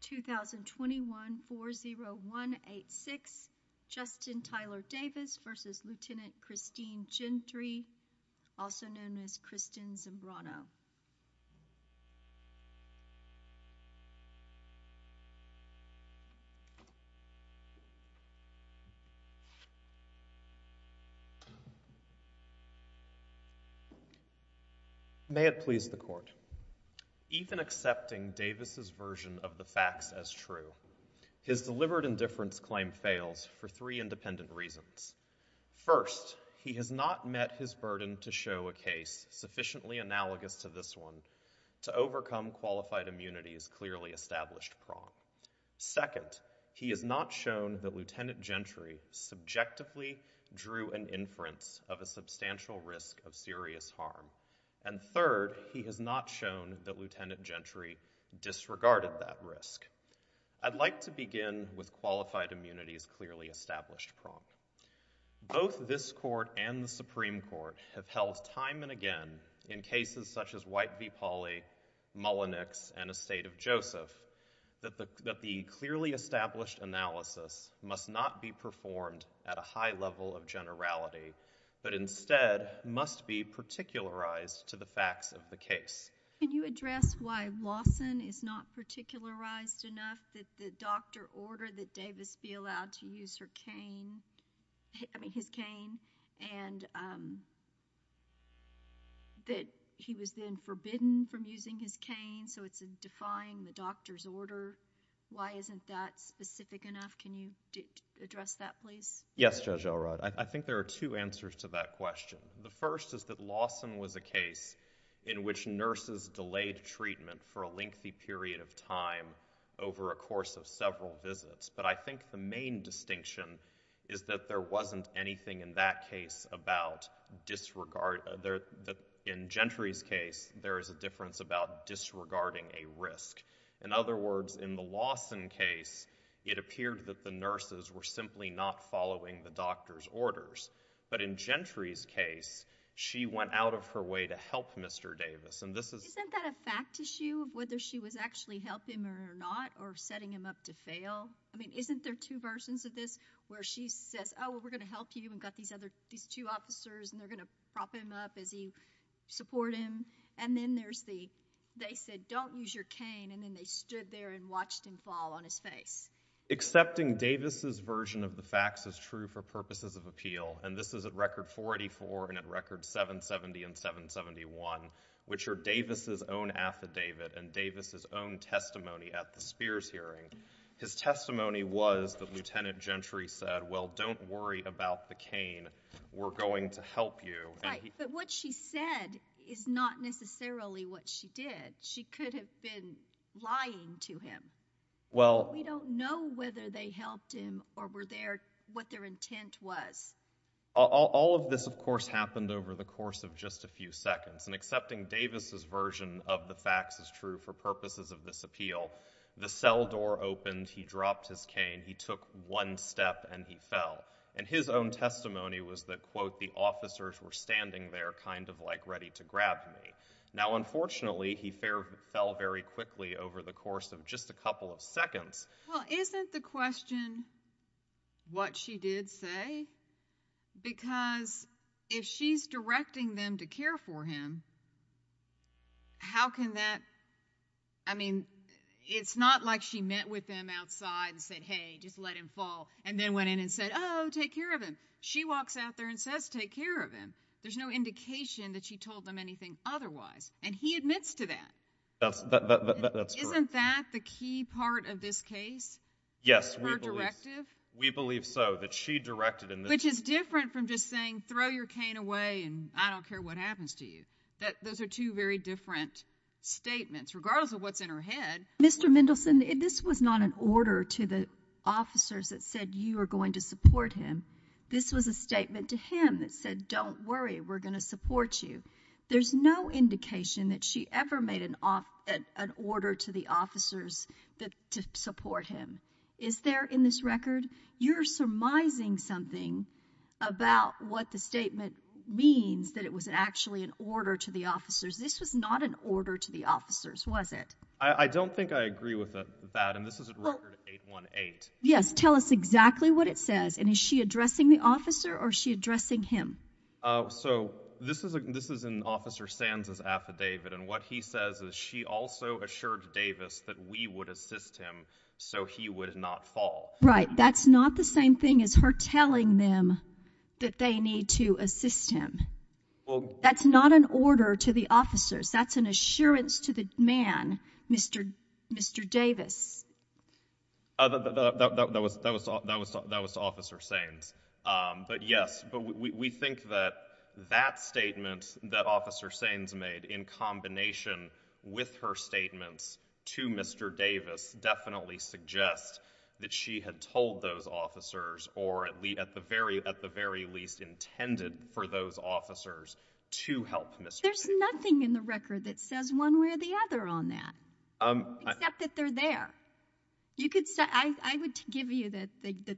2021-40186 Justin Tyler Davis v. Lt. Christine Gentry, also known as Kristen Zimbrano. May it please the Court. Even accepting Davis' version of the facts as true, his delivered indifference claim fails for three independent reasons. First, he has not met his burden to show a case sufficiently analogous to this one to overcome Qualified Immunity's clearly established prompt. Second, he has not shown that Lt. Gentry subjectively drew an inference of a substantial risk of serious harm. And third, he has not shown that Lt. Gentry disregarded that risk. I'd like to begin with Qualified Immunity's clearly established prompt. Both this Court and the Supreme Court have held time and again, in cases such as White v. Pauley, Mullenix, and Estate of Joseph, that the clearly established analysis must not be performed at a high level of generality, but instead must be particularized to the facts of the case. Can you address why Lawson is not particularized enough that the doctor ordered that Davis be allowed to use her cane, I mean his cane, and that he was then forbidden from using his cane, so it's defying the doctor's order? Why isn't that specific enough? Can you address that, please? Yes, Judge Elrod. I think there are two answers to that question. The first is that Lawson was a case in which nurses delayed treatment for a lengthy period of time over a course of several visits, but I think the main distinction is that there wasn't anything in that case about disregard. In Gentry's case, there is a difference about disregarding a risk. In other words, in the Lawson case, it appeared that the nurses were simply not following the doctor's orders. But in Gentry's case, she went out of her way to help Mr. Davis. Isn't that a fact issue of whether she was actually helping him or not, or setting him up to fail? I mean, isn't there two versions of this where she says, oh, we're going to help you, and got these two officers, and they're going to prop him up as you support him, and then there's the, they said, don't use your cane, and then they stood there and watched him fall on his face. Accepting Davis's version of the facts is true for purposes of appeal, and this is at record 484 and at record 770 and 771, which are Davis's own affidavit and Davis's own testimony at the Spears hearing. His testimony was that Lieutenant Gentry said, well, don't worry about the cane, we're going to help you. Right, but what she said is not necessarily what she did. She could have been lying to him. We don't know whether they helped him or were there, what their intent was. All of this, of course, happened over the course of just a few seconds, and accepting Davis's version of the facts is true for purposes of this appeal. The cell door opened, he dropped his cane, he took one step, and he fell, and his own testimony was that, quote, the officers were standing there kind of like ready to grab me. Now, unfortunately, he fell very quickly over the course of just a couple of seconds. Well, isn't the question what she did say? Because if she's directing them to care for him, how can that, I mean, it's not like she met with him outside and said, hey, just let him fall, and then went in and said, oh, take care of him. She walks out there and says, take care of him. There's no indication that she told them anything otherwise, and he admits to that. Isn't that the key part of this case, her directive? We believe so. That she directed him. Which is different from just saying, throw your cane away, and I don't care what happens to you. Those are two very different statements, regardless of what's in her head. Mr. Mendelson, this was not an order to the officers that said you are going to support him. This was a statement to him that said, don't worry, we're going to support you. There's no indication that she ever made an order to the officers to support him. Is there in this record? You're surmising something about what the statement means that it was actually an order to the officers. This was not an order to the officers, was it? I don't think I agree with that, and this is record 818. Yes. Tell us exactly what it says. And is she addressing the officer, or is she addressing him? So this is in Officer Sands' affidavit, and what he says is she also assured Davis that we would assist him so he would not fall. Right. That's not the same thing as her telling them that they need to assist him. That's not an order to the officers. That's an assurance to the man, Mr. Davis. That was to Officer Sands. But yes, we think that that statement that Officer Sands made in combination with her statements to Mr. Davis definitely suggests that she had told those officers, or at the very least intended for those officers, to help Mr. Davis. There's nothing in the record that says one way or the other on that, except that they're there. You could say, I would give you that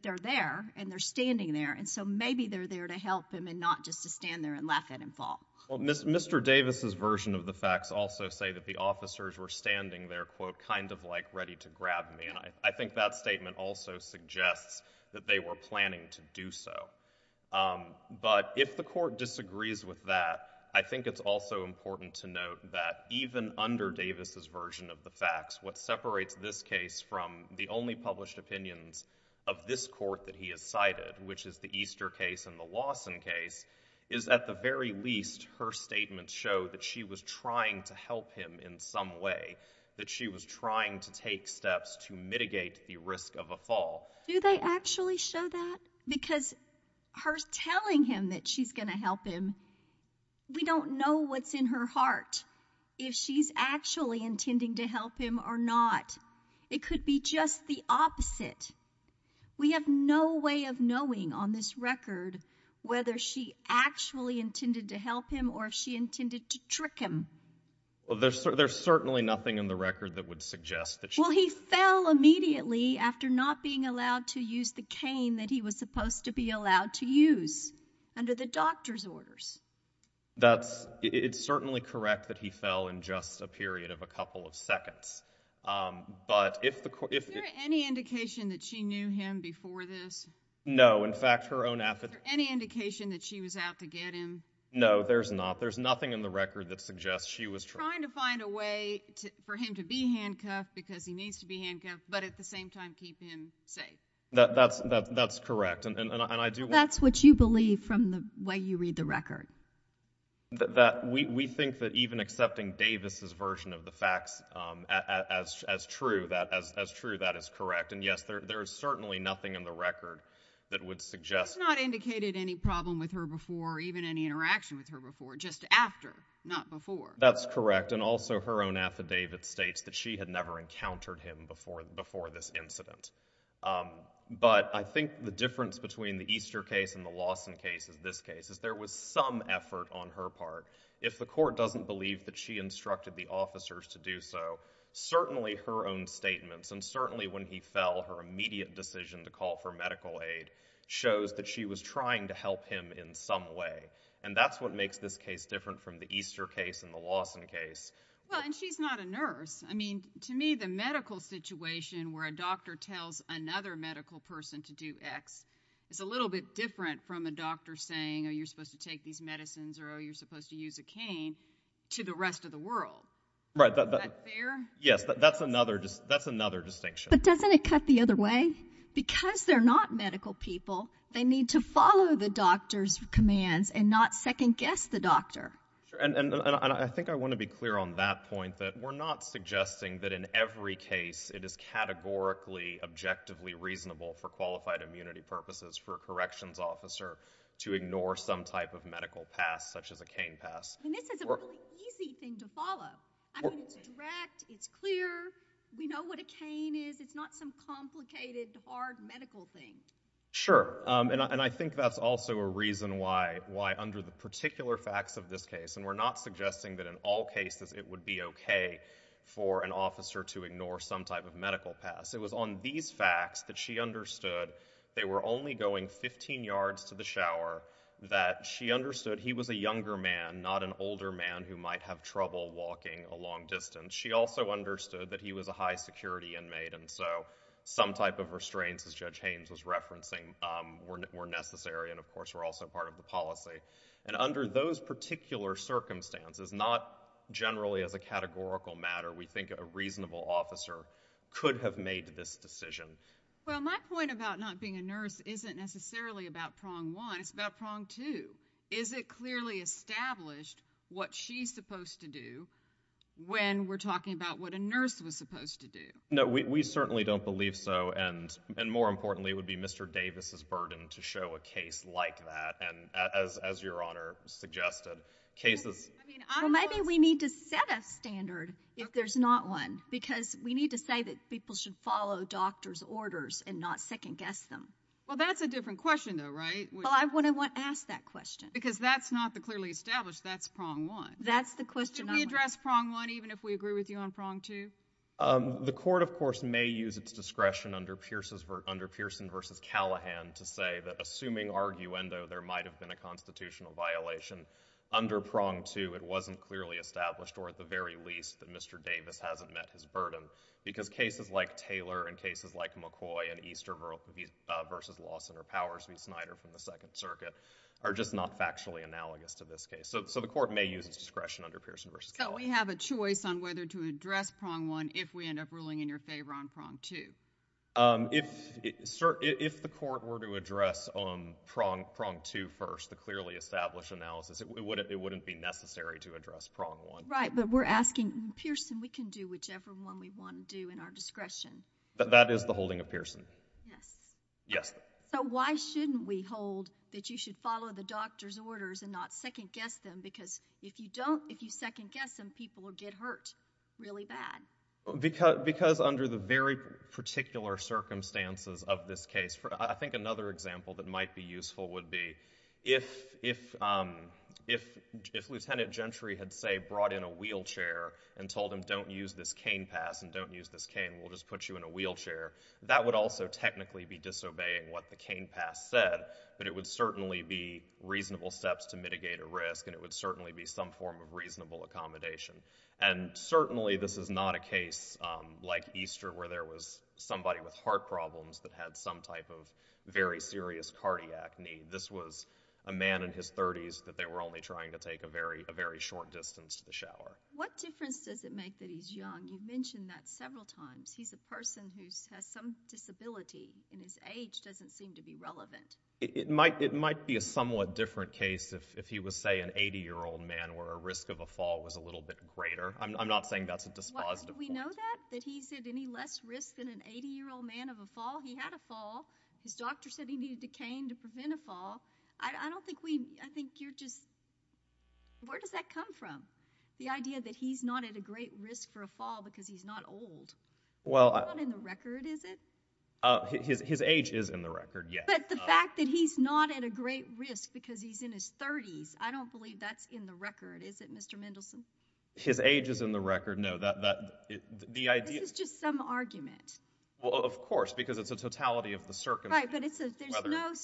they're there, and they're standing there, and so maybe they're there to help him and not just to stand there and laugh at him fall. Mr. Davis' version of the facts also say that the officers were standing there, quote, kind of like ready to grab me, and I think that statement also suggests that they were planning to do so. But if the court disagrees with that, I think it's also important to note that even under Mr. Davis' version of the facts, what separates this case from the only published opinions of this court that he has cited, which is the Easter case and the Lawson case, is at the very least, her statements show that she was trying to help him in some way, that she was trying to take steps to mitigate the risk of a fall. Do they actually show that? Because her telling him that she's going to help him, we don't know what's in her heart. If she's actually intending to help him or not. It could be just the opposite. We have no way of knowing on this record whether she actually intended to help him or if she intended to trick him. There's certainly nothing in the record that would suggest that she... Well, he fell immediately after not being allowed to use the cane that he was supposed to be allowed to use under the doctor's orders. That's, it's certainly correct that he fell in just a period of a couple of seconds. But if the court... Is there any indication that she knew him before this? No, in fact, her own affidavit... Is there any indication that she was out to get him? No, there's not. There's nothing in the record that suggests she was trying to find a way for him to be handcuffed because he needs to be handcuffed, but at the same time, keep him safe. That's correct. And I do want... So that's what you believe from the way you read the record? We think that even accepting Davis's version of the facts as true, that is correct. And yes, there is certainly nothing in the record that would suggest... It's not indicated any problem with her before or even any interaction with her before, just after, not before. That's correct. And also her own affidavit states that she had never encountered him before this incident. But I think the difference between the Easter case and the Lawson case is this case, is there was some effort on her part. If the court doesn't believe that she instructed the officers to do so, certainly her own statements and certainly when he fell, her immediate decision to call for medical aid shows that she was trying to help him in some way. And that's what makes this case different from the Easter case and the Lawson case. Well, and she's not a nurse. I mean, to me, the medical situation where a doctor tells another medical person to do X is a little bit different from a doctor saying, oh, you're supposed to take these medicines or, oh, you're supposed to use a cane to the rest of the world. Right. Is that fair? Yes. That's another distinction. But doesn't it cut the other way? Because they're not medical people, they need to follow the doctor's commands and not second guess the doctor. And I think I want to be clear on that point, that we're not suggesting that in every case it is categorically, objectively reasonable for qualified immunity purposes for a corrections officer to ignore some type of medical pass such as a cane pass. And this is a really easy thing to follow. I mean, it's direct, it's clear, we know what a cane is, it's not some complicated, hard medical thing. Sure. And I think that's also a reason why under the particular facts of this case, and we're not suggesting that in all cases it would be okay for an officer to ignore some type of medical pass. It was on these facts that she understood they were only going 15 yards to the shower, that she understood he was a younger man, not an older man who might have trouble walking a long distance. She also understood that he was a high security inmate, and so some type of restraints, as Judge Haynes was referencing, were necessary and of course were also part of the policy. And under those particular circumstances, not generally as a categorical matter, we think a reasonable officer could have made this decision. Well, my point about not being a nurse isn't necessarily about prong one, it's about prong two. Is it clearly established what she's supposed to do when we're talking about what a nurse was supposed to do? No, we certainly don't believe so, and more importantly, it would be Mr. Davis' burden to show a case like that, and as Your Honor suggested, cases— Well, maybe we need to set a standard if there's not one, because we need to say that people should follow doctor's orders and not second guess them. Well, that's a different question though, right? Well, I wouldn't want to ask that question. Because that's not the clearly established, that's prong one. That's the question I want— Should we address prong one even if we agree with you on prong two? The court, of course, may use its discretion under Pearson v. Callahan to say that assuming arguendo there might have been a constitutional violation under prong two, it wasn't clearly established, or at the very least, that Mr. Davis hasn't met his burden, because cases like Taylor and cases like McCoy and Easter v. Lawson or Powers v. Snyder from the Second Circuit are just not factually analogous to this case, so the court may use its discretion under Pearson v. Callahan. So we have a choice on whether to address prong one if we end up ruling in your favor on prong two? If the court were to address prong two first, the clearly established analysis, it wouldn't be necessary to address prong one. Right, but we're asking, Pearson, we can do whichever one we want to do in our discretion. That is the holding of Pearson. Yes. Yes. So why shouldn't we hold that you should follow the doctor's orders and not second guess some people who get hurt really bad? Because under the very particular circumstances of this case, I think another example that might be useful would be if Lieutenant Gentry had, say, brought in a wheelchair and told him don't use this cane pass and don't use this cane, we'll just put you in a wheelchair, that would also technically be disobeying what the cane pass said, but it would certainly be reasonable steps to mitigate a risk and it would certainly be some form of reasonable accommodation. And certainly this is not a case like Easter where there was somebody with heart problems that had some type of very serious cardiac need. This was a man in his 30s that they were only trying to take a very short distance to the shower. What difference does it make that he's young? You mentioned that several times. He's a person who has some disability and his age doesn't seem to be relevant. It might be a somewhat different case if he was, say, an 80-year-old man where a risk of a fall was a little bit greater. I'm not saying that's a dispositive fault. Why, don't we know that? That he's at any less risk than an 80-year-old man of a fall? He had a fall. His doctor said he needed a cane to prevent a fall. I don't think we, I think you're just, where does that come from, the idea that he's not at a great risk for a fall because he's not old? He's not in the record, is it? His age is in the record, yes. But the fact that he's not at a great risk because he's in his 30s, I don't believe that's I don't know. I don't know. I don't know. I don't know. I don't know. His age is in the record, no. That, that, the idea This is just some argument. Well, of course, because it's a totality of the circumstance. Right, but it's a, there's no,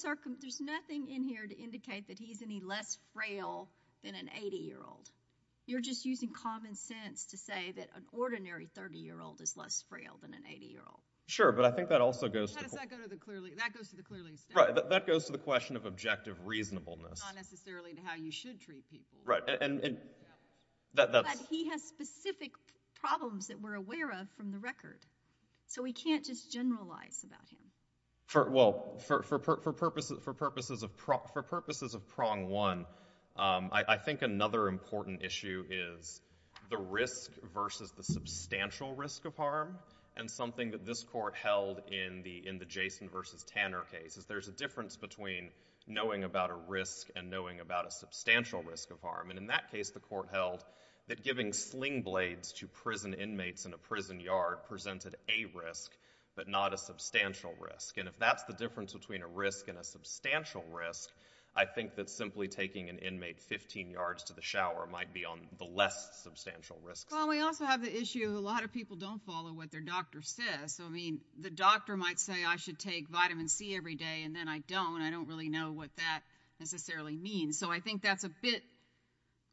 there's nothing in here to indicate that he's any less frail than an 80-year-old. You're just using common sense to say that an ordinary 30-year-old is less frail than an 80-year-old. Sure, but I think that also goes to How does that go to the clearly, that goes to the clearly established Right, that goes to the question of objective reasonableness. But he has specific problems that we're aware of from the record. So we can't just generalize about him. For, well, for purposes of prong one, I think another important issue is the risk versus the substantial risk of harm. And something that this court held in the, in the Jason versus Tanner case is there's a difference between knowing about a risk and knowing about a substantial risk of harm. And in that case, the court held that giving sling blades to prison inmates in a prison yard presented a risk, but not a substantial risk. And if that's the difference between a risk and a substantial risk, I think that simply taking an inmate 15 yards to the shower might be on the less substantial risks. Well, we also have the issue, a lot of people don't follow what their doctor says. So, I mean, the doctor might say I should take vitamin C every day, and then I don't. I don't really know what that necessarily means. And so I think that's a bit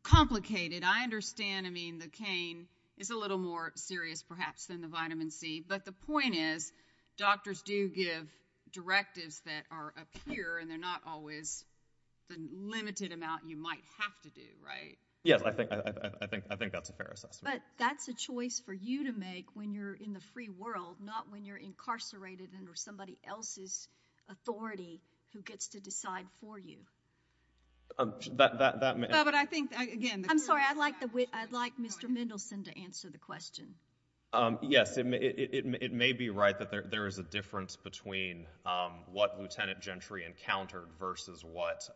complicated. I understand, I mean, the cane is a little more serious perhaps than the vitamin C, but the point is doctors do give directives that are up here and they're not always the limited amount you might have to do, right? Yes, I think, I think, I think that's a fair assessment. But that's a choice for you to make when you're in the free world, not when you're incarcerated under somebody else's authority who gets to decide for you. But I think, again, I'm sorry, I'd like the, I'd like Mr. Mendelsohn to answer the question. Yes, it may be right that there is a difference between what Lieutenant Gentry encountered versus what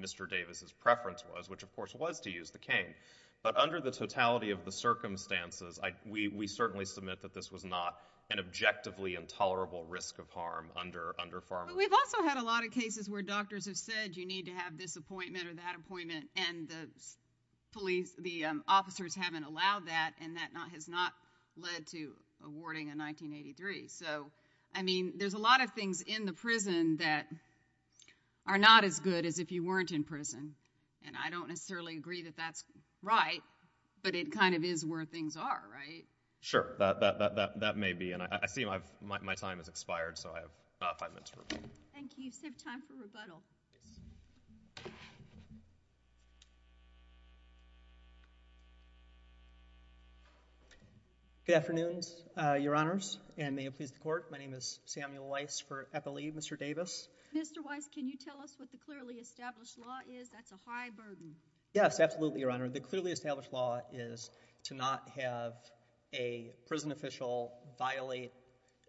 Mr. Davis' preference was, which of course was to use the cane. But under the totality of the circumstances, we certainly submit that this was not an objectively But we've also had a lot of cases where doctors have said you need to have this appointment or that appointment and the police, the officers haven't allowed that and that has not led to awarding a 1983. So I mean, there's a lot of things in the prison that are not as good as if you weren't in prison. And I don't necessarily agree that that's right, but it kind of is where things are, right? Sure, that may be. And I see my time has expired, so I have five minutes for rebuttal. Thank you. You've saved time for rebuttal. Good afternoons, Your Honors, and may it please the Court. My name is Samuel Weiss for Eppley. Mr. Davis? Mr. Weiss, can you tell us what the clearly established law is? That's a high burden. Yes, absolutely, Your Honor. The clearly established law is to not have a prison official violate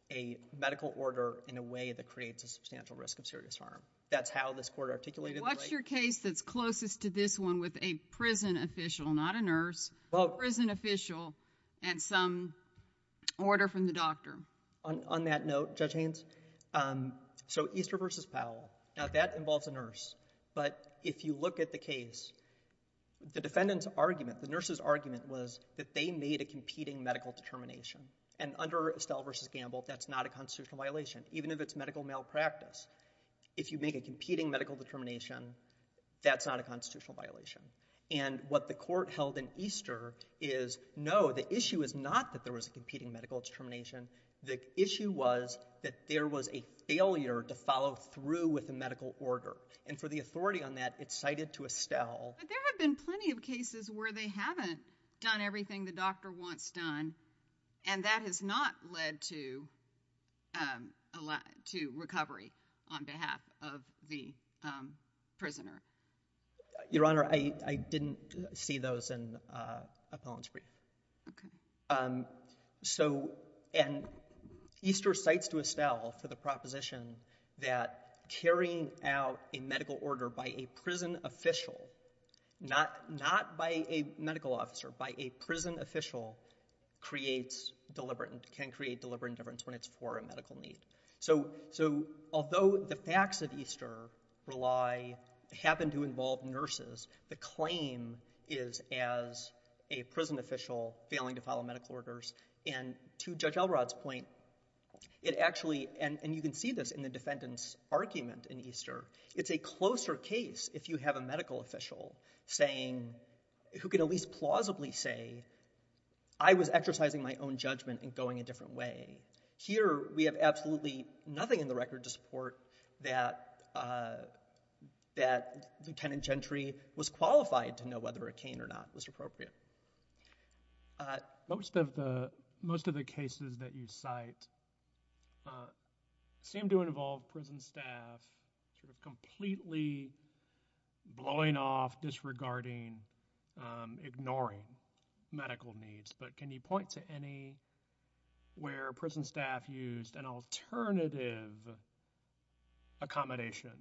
a medical order in a way that creates a substantial risk of serious harm. That's how this Court articulated the right. What's your case that's closest to this one with a prison official, not a nurse, a prison official and some order from the doctor? On that note, Judge Haynes, so Easter v. Powell, now that involves a nurse, but if you look at the case, the defendant's argument, the nurse's argument was that they made a competing medical determination. And under Estelle v. Gamble, that's not a constitutional violation, even if it's medical malpractice. If you make a competing medical determination, that's not a constitutional violation. And what the Court held in Easter is no, the issue is not that there was a competing medical determination. The issue was that there was a failure to follow through with the medical order. And for the authority on that, it's cited to Estelle. But there have been plenty of cases where they haven't done everything the doctor wants done and that has not led to recovery on behalf of the prisoner. Your Honor, I didn't see those in Appellant's brief. Okay. So and Easter cites to Estelle for the proposition that carrying out a medical order by a prison official, not by a medical officer, by a prison official, creates deliberate, can create deliberate indifference when it's for a medical need. So although the facts of Easter happen to involve nurses, the claim is as a prison official failing to follow medical orders. And to Judge Elrod's point, it actually, and you can see this in the defendant's argument in Easter, it's a closer case if you have a medical official saying, who could at least plausibly say, I was exercising my own judgment and going a different way. Here we have absolutely nothing in the record to support that Lieutenant Gentry was qualified to know whether a cane or not was appropriate. Most of the, most of the cases that you cite seem to involve prison staff sort of completely blowing off, disregarding, ignoring medical needs. But can you point to any where prison staff used an alternative accommodation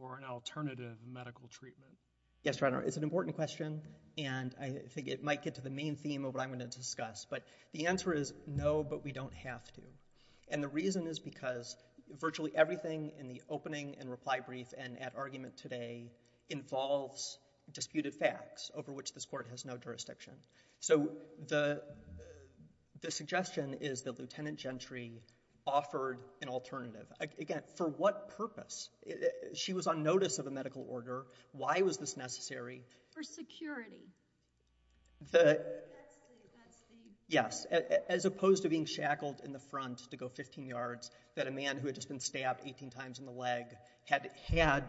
or an alternative medical treatment? Yes, Your Honor, it's an important question, and I think it might get to the main theme of what I'm going to discuss. But the answer is no, but we don't have to. And the reason is because virtually everything in the opening and reply brief and at argument today involves disputed facts over which this court has no jurisdiction. So the suggestion is that Lieutenant Gentry offered an alternative. Again, for what purpose? She was on notice of a medical order. Why was this necessary? For security. Yes, as opposed to being shackled in the front to go 15 yards that a man who had just been stabbed 18 times in the leg had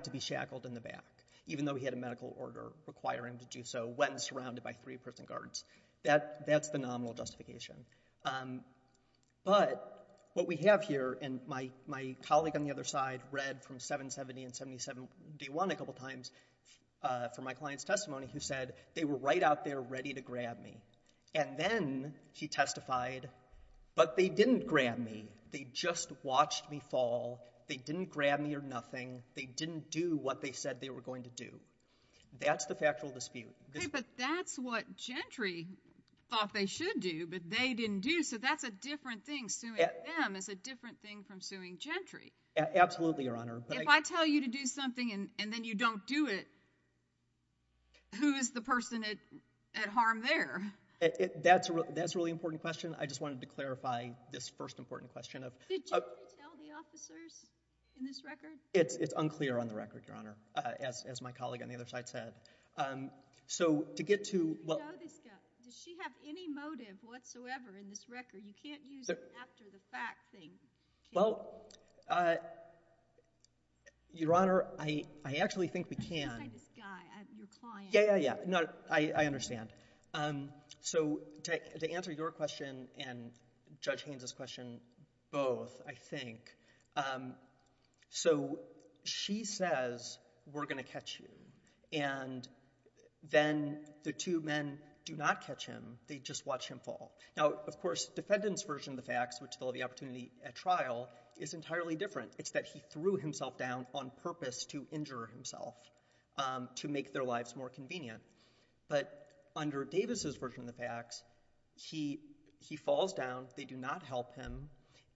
to be shackled in the back, even though he had a medical order requiring him to do so when surrounded by three prison guards. That's the nominal justification. But what we have here, and my colleague on the other side read from 770 and 77D1 a couple times from my client's testimony, who said, they were right out there ready to grab me. And then she testified, but they didn't grab me, they just watched me fall, they didn't grab me or nothing, they didn't do what they said they were going to do. That's the factual dispute. Okay, but that's what Gentry thought they should do, but they didn't do. So that's a different thing, suing them is a different thing from suing Gentry. Absolutely, Your Honor. If I tell you to do something and then you don't do it, who is the person at harm there? That's a really important question. I just wanted to clarify this first important question. Did you tell the officers in this record? It's unclear on the record, Your Honor, as my colleague on the other side said. So to get to... Do you know this guy? Does she have any motive whatsoever in this record? You can't use an after-the-fact thing. Well, Your Honor, I actually think we can. I'm talking about this guy, your client. Yeah, yeah, yeah, I understand. So to answer your question and Judge Haines's question both, I think, so she says, we're going to catch you, and then the two men do not catch him, they just watch him fall. Now, of course, defendant's version of the facts, which they'll have the opportunity at trial, is entirely different. It's that he threw himself down on purpose to injure himself, to make their lives more convenient. But under Davis's version of the facts, he falls down, they do not help him,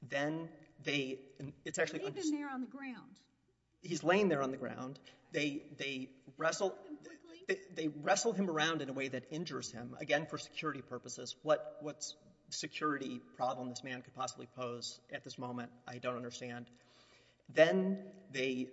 then they... It's actually... He's laying there on the ground. He's laying there on the ground. They wrestle him around in a way that injures him, again, for security purposes. What security problem this man could possibly pose at this moment, I don't understand. Then they...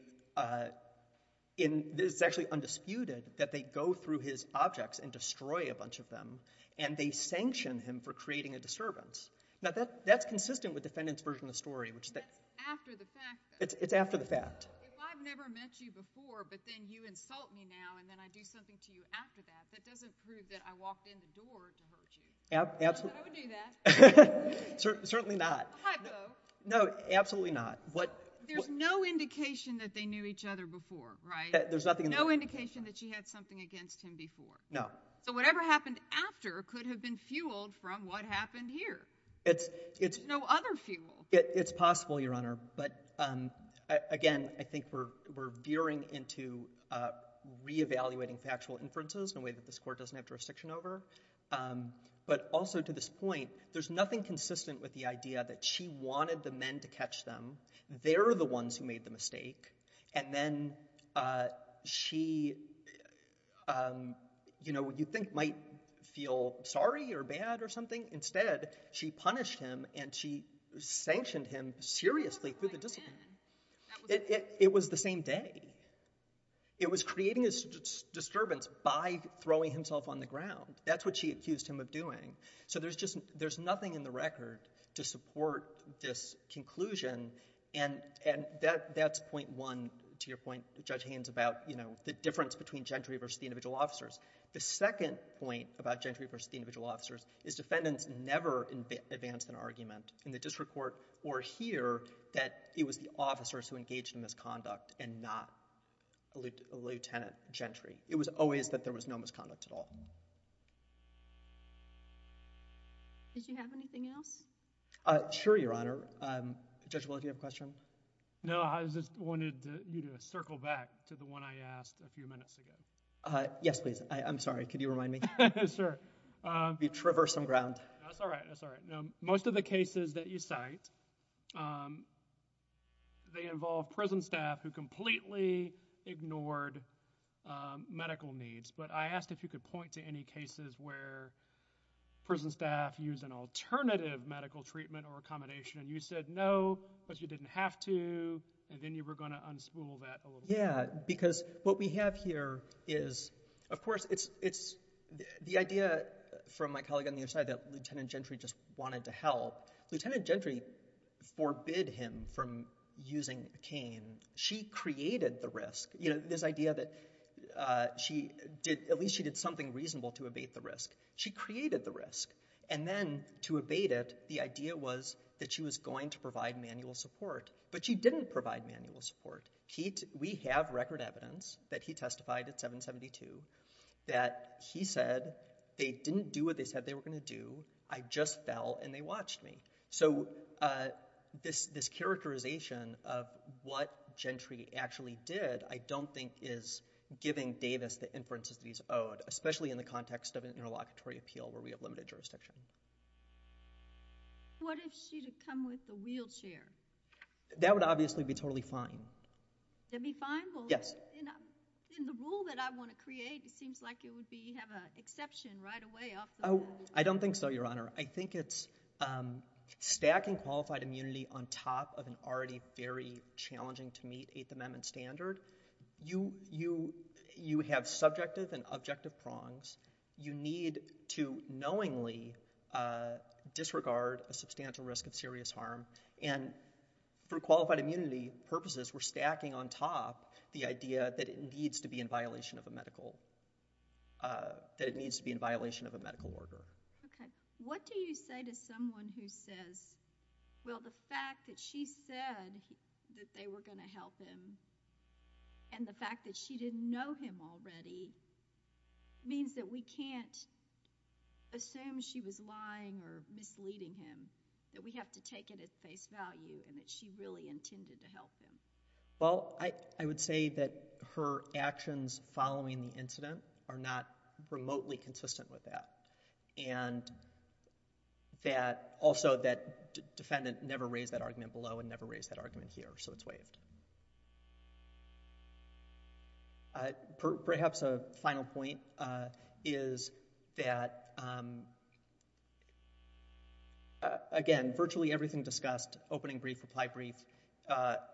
It's actually undisputed that they go through his objects and destroy a bunch of them, and they sanction him for creating a disturbance. Now, that's consistent with defendant's version of the story, which... That's after the fact, though. It's after the fact. If I've never met you before, but then you insult me now, and then I do something to you after that, that doesn't prove that I walked in the door to hurt you. Absolutely. I would do that. Certainly not. I would, though. No, absolutely not. What... There's no indication that they knew each other before, right? There's nothing in the... No indication that she had something against him before? No. So, whatever happened after could have been fueled from what happened here. It's... There's no other fuel. It's possible, Your Honor, but again, I think we're veering into reevaluating factual inferences in a way that this court doesn't have jurisdiction over. But also, to this point, there's nothing consistent with the idea that she wanted the men to catch them, they're the ones who made the mistake, and then she, you know, you think might feel sorry or bad or something. Instead, she punished him, and she sanctioned him seriously through the discipline. It was the same day. It was creating a disturbance by throwing himself on the ground. That's what she accused him of doing. So there's just... There's nothing in the record to support this conclusion, and that's point one to your point, Judge Haynes, about, you know, the difference between gentry versus the individual officers. The second point about gentry versus the individual officers is defendants never advance an argument in the district court or hear that it was the officers who engaged in misconduct and not a lieutenant gentry. It was always that there was no misconduct at all. Did you have anything else? Sure, Your Honor. Judge Willard, do you have a question? No, I just wanted you to circle back to the one I asked a few minutes ago. Yes, please. I'm sorry. Could you remind me? Sure. We've traversed some ground. That's all right. That's all right. Most of the cases that you cite, they involve prison staff who completely ignored medical needs. But I asked if you could point to any cases where prison staff used an alternative medical treatment or accommodation, and you said no, but you didn't have to, and then you were going to unspool that a little bit. Yeah, because what we have here is, of course, it's... I get it from my colleague on the other side that Lieutenant Gentry just wanted to help. Lieutenant Gentry forbid him from using a cane. She created the risk, this idea that at least she did something reasonable to abate the risk. She created the risk, and then to abate it, the idea was that she was going to provide manual support, but she didn't provide manual support. We have record evidence that he testified at 772 that he said they didn't do what they said they were going to do. I just fell, and they watched me. So this characterization of what Gentry actually did, I don't think is giving Davis the inferences that he's owed, especially in the context of an interlocutory appeal where we have limited jurisdiction. What if she had come with a wheelchair? That would obviously be totally fine. That'd be fine? Yes. In the rule that I want to create, it seems like it would have an exception right away off the board. I don't think so, Your Honor. I think it's stacking qualified immunity on top of an already very challenging-to-meet Eighth Amendment standard. You have subjective and objective prongs. You need to knowingly disregard a substantial risk of serious harm, and for qualified immunity purposes, we're stacking on top the idea that it needs to be in violation of a medical order. What do you say to someone who says, well, the fact that she said that they were going to help him, and the fact that she didn't know him already, means that we can't assume she was lying or misleading him, that we have to take it at face value, and that she really intended to help him? Well, I would say that her actions following the incident are not remotely consistent with that, and that also that defendant never raised that argument below and never raised that argument. Perhaps a final point is that, again, virtually everything discussed, opening brief, reply brief,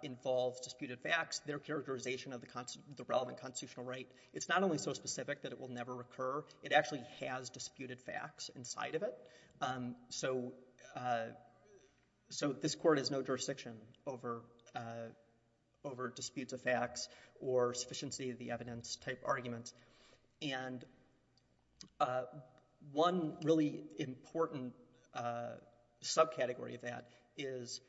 involves disputed facts, their characterization of the relevant constitutional right. It's not only so specific that it will never occur. It actually has disputed facts inside of it. So this court has no jurisdiction over disputes of facts or sufficiency of the evidence type arguments, and one really important subcategory of that is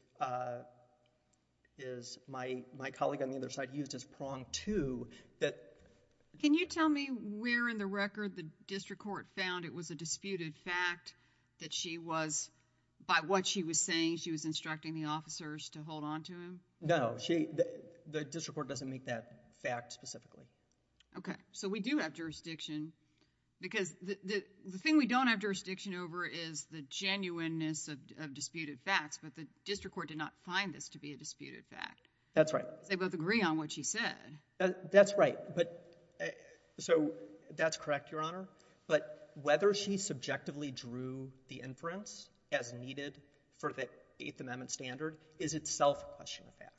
my colleague on the other side used as prong two. Can you tell me where in the record the district court found it was a disputed fact that she was, by what she was saying, she was instructing the officers to hold on to him? No. The district court doesn't make that fact specifically. Okay. So we do have jurisdiction, because the thing we don't have jurisdiction over is the genuineness of disputed facts, but the district court did not find this to be a disputed fact. That's right. They both agree on what she said. That's right. So that's correct, Your Honor. But whether she subjectively drew the inference as needed for the Eighth Amendment standard is itself a question of fact.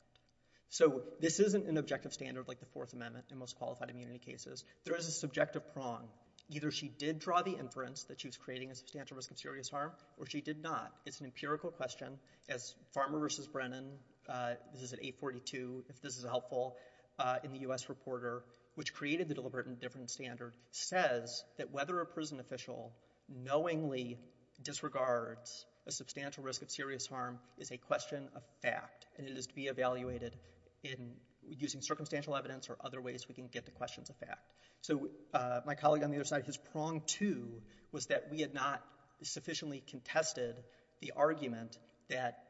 So this isn't an objective standard like the Fourth Amendment in most qualified immunity cases. There is a subjective prong. Either she did draw the inference that she was creating a substantial risk of serious harm, or she did not. It's an empirical question, as Farmer v. Brennan, this is at 842, if this is helpful, in the that whether a prison official knowingly disregards a substantial risk of serious harm is a question of fact, and it is to be evaluated in using circumstantial evidence or other ways we can get to questions of fact. So my colleague on the other side, his prong, too, was that we had not sufficiently contested the argument that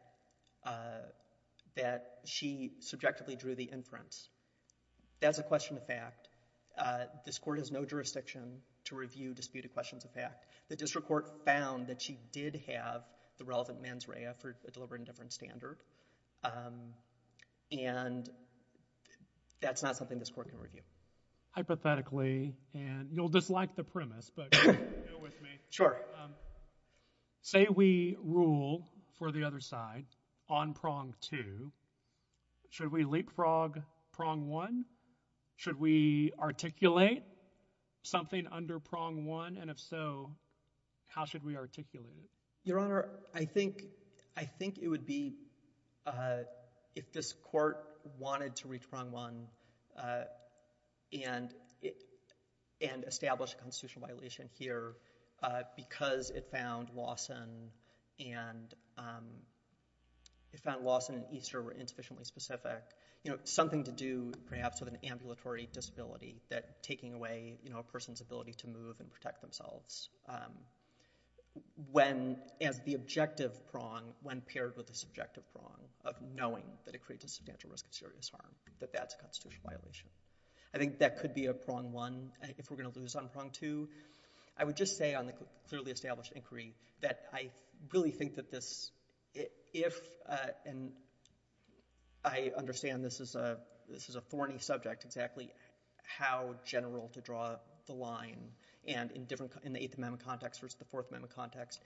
she subjectively drew the inference. That's a question of fact. This court has no jurisdiction to review disputed questions of fact. The district court found that she did have the relevant mens rea for a deliberate indifference standard, and that's not something this court can review. Hypothetically, and you'll dislike the premise, but bear with me. Sure. Say we rule for the other side on prong two. Should we leapfrog prong one? Should we articulate something under prong one? And if so, how should we articulate it? Your Honor, I think it would be if this court wanted to reach prong one and establish a constitutional violation here because it found Lawson and Easter were insufficiently specific, something to do perhaps with an ambulatory disability that taking away a person's ability to move and protect themselves as the objective prong when paired with the subjective prong of knowing that it creates a substantial risk of serious harm, that that's a constitutional violation. I think that could be a prong one. If we're going to lose on prong two, I would just say on the clearly established inquiry that I really think that this, if, and I understand this is a thorny subject, exactly how general to draw the line, and in the Eighth Amendment context versus the Fourth Amendment context,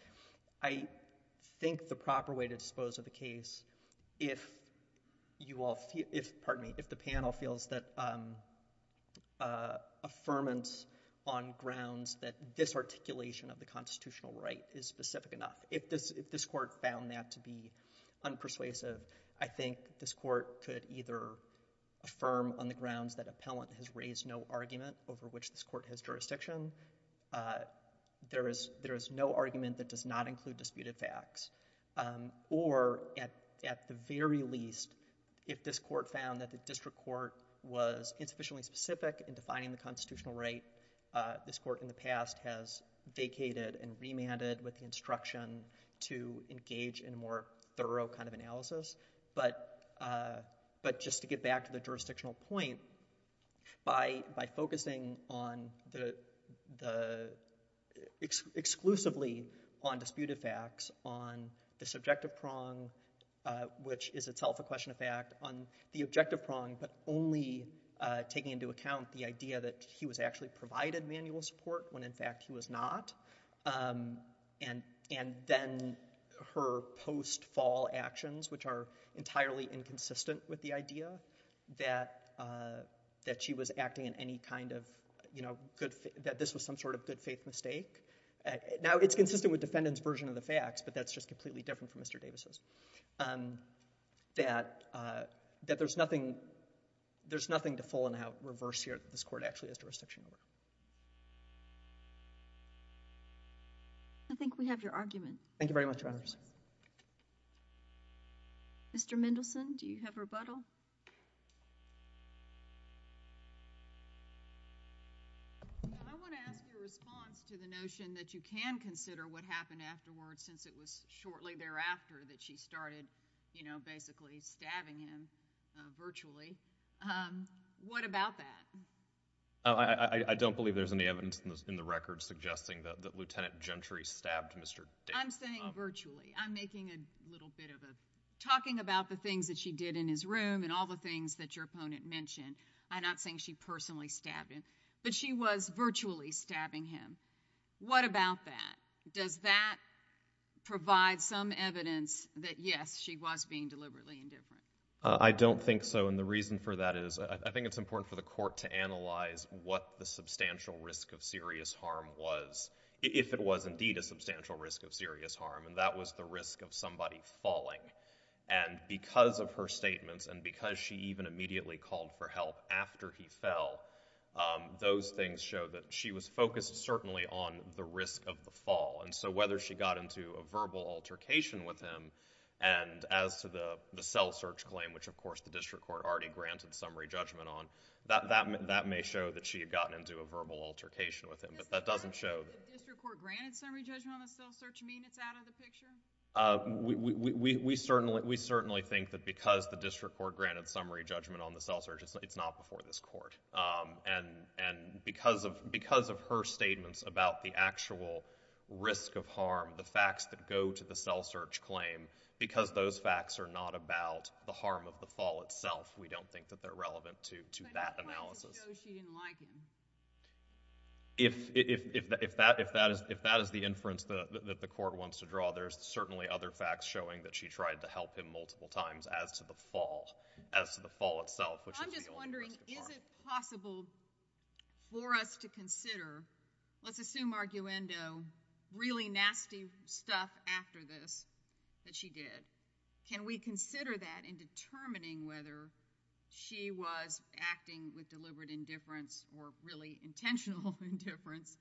I think the proper way to dispose of the case, if you all, if, pardon me, if the panel feels that affirmance on grounds that this articulation of the constitutional right is specific enough, if this, if this court found that to be unpersuasive, I think this court could either affirm on the grounds that appellant has raised no argument over which this court has jurisdiction. There is, there is no argument that does not include disputed facts. Or at, at the very least, if this court found that the district court was insufficiently specific in defining the constitutional right, this court in the past has vacated and remanded with the instruction to engage in a more thorough kind of analysis. But, but just to get back to the jurisdictional point, by, by focusing on the, the exclusively on disputed facts, on the subjective prong, which is itself a question of fact, on the objective prong, but only taking into account the idea that he was actually provided manual support when in fact he was not, and, and then her post-fall actions, which are entirely inconsistent with the idea that, that she was acting in any kind of, you know, good, that this was some sort of good faith mistake. Now, it's consistent with defendant's version of the facts, but that's just completely different from Mr. Davis's, that, that there's nothing, there's nothing to full and out reverse here that this court actually has jurisdiction over. I think we have your argument. Thank you very much, Your Honors. Mr. Mendelson, do you have rebuttal? No, I want to ask your response to the notion that you can consider what happened afterwards since it was shortly thereafter that she started, you know, basically stabbing him virtually. What about that? I, I don't believe there's any evidence in the, in the record suggesting that, that Lieutenant Gentry stabbed Mr. Davis. I'm saying virtually. I'm making a little bit of a, talking about the things that she did in his room and all the things that your opponent mentioned, I'm not saying she personally stabbed him, but she was virtually stabbing him. What about that? Does that provide some evidence that, yes, she was being deliberately indifferent? I don't think so, and the reason for that is, I, I think it's important for the court to analyze what the substantial risk of serious harm was, if it was indeed a substantial risk of serious harm, and that was the risk of somebody falling, and because of her statements and because she even immediately called for help after he fell, those things show that she was focused certainly on the risk of the fall, and so whether she got into a verbal altercation with him, and as to the, the cell search claim, which of course the district court already granted summary judgment on, that, that may, that may show that she had gotten into a verbal altercation with him, but that doesn't show... Does the district court granted summary judgment on the cell search mean it's out of the picture? We, we, we certainly, we certainly think that because the district court granted summary judgment on the cell search, it's, it's not before this court, and, and because of, because of her statements about the actual risk of harm, the facts that go to the cell search claim, because those facts are not about the harm of the fall itself, we don't think that they're relevant to, to that analysis. How do you know she didn't like him? If, if, if, if that, if that is, if that is the inference that, that the court wants to draw, there's certainly other facts showing that she tried to help him multiple times as to the fall, as to the fall itself, which is the only risk of harm. I'm just wondering, is it possible for us to consider, let's assume arguendo, really nasty stuff after this that she did, can we consider that in determining whether she was acting with deliberate indifference or really intentional indifference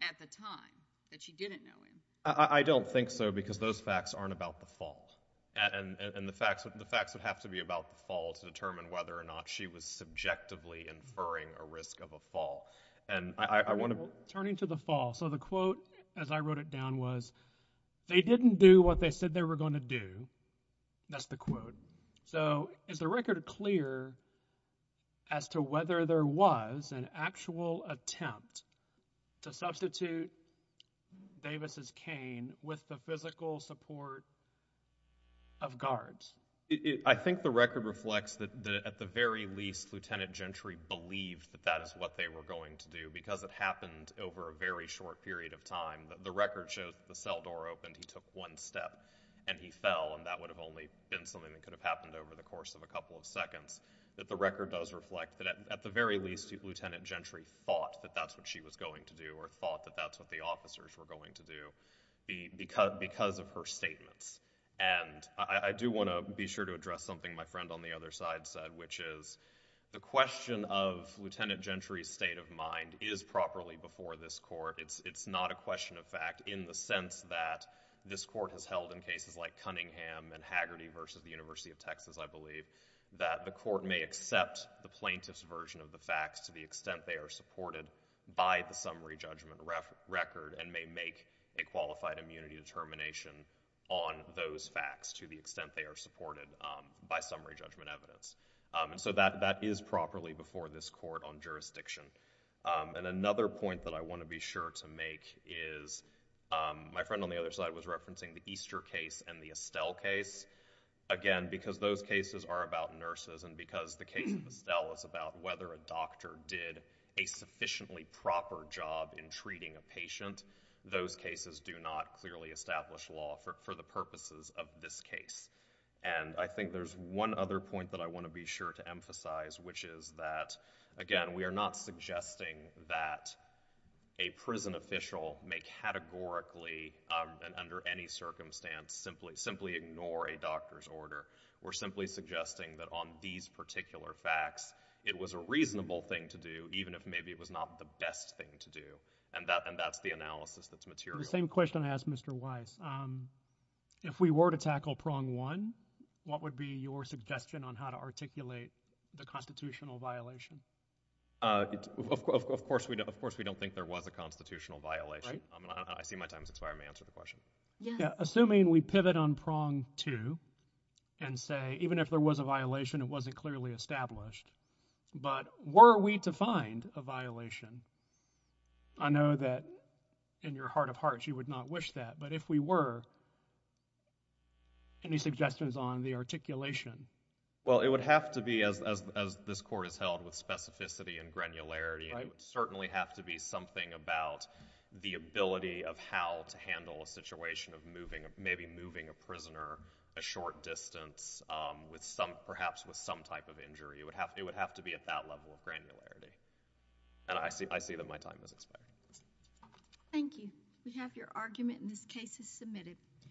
at the time that she didn't know him? I, I don't think so, because those facts aren't about the fall, and, and, and the facts, the facts would have to be about the fall to determine whether or not she was subjectively inferring a risk of a fall, and I, I, I want to. Turning to the fall, so the quote, as I wrote it down, was, they didn't do what they said they were going to do, that's the quote. So, is the record clear as to whether there was an actual attempt to substitute Davis' cane with the physical support of guards? I think the record reflects that, that at the very least, Lieutenant Gentry believed that that is what they were going to do, because it happened over a very short period of time. The record shows that the cell door opened, he took one step, and he fell, and that would have only been something that could have happened over the course of a couple of seconds, that the record does reflect that at the very least, Lieutenant Gentry thought that that's what she was going to do or thought that that's what the officers were going to do, because, because of her statements, and I, I do want to be sure to address something my friend on the other side said, which is, the question of Lieutenant Gentry's state of mind is properly before this Court, it's, it's not a question of fact in the sense that this Court has held in cases like Cunningham and Haggerty versus the University of Texas, I believe, that the Court may accept the plaintiff's version of the facts to the extent they are supported by the summary judgment record, and may make a qualified immunity determination on those facts to the extent they are supported by summary judgment evidence, and so that, that is properly before this Court on jurisdiction, and another point that I want to be sure to make is my friend on the other side was referencing the Easter case and the Estelle case, again, because those cases are about nurses, and because the case of Estelle is about whether a doctor did a sufficiently proper job in treating a patient, those cases do not clearly establish law for, for the purposes of this case, and I think there's one other point that I want to be sure to emphasize, which is that, again, we are not suggesting that a prison official may categorically, um, and under any circumstance, simply, simply ignore a doctor's order. We're simply suggesting that on these particular facts, it was a reasonable thing to do, even if maybe it was not the best thing to do, and that, and that's the analysis that's material. The same question I asked Mr. Weiss. Um, if we were to tackle prong one, what would be your suggestion on how to articulate the constitutional violation? Uh, of course, of course, we don't think there was a constitutional violation. I see my time has expired. May I answer the question? Yeah, assuming we pivot on prong two, and say, even if there was a violation, it wasn't clearly established, but were we to find a violation, I know that in your heart of hearts, you would not wish that, but if we were, any suggestions on the articulation? Well, it would have to be, as, as, as this court has held with specificity and granularity, it would certainly have to be something about the ability of how to handle a situation of moving, maybe moving a prisoner a short distance, um, with some, perhaps with some type of injury. It would have, it would have to be at that level of granularity, and I see, I see that my time has expired. Thank you. We have your argument, and this case is submitted.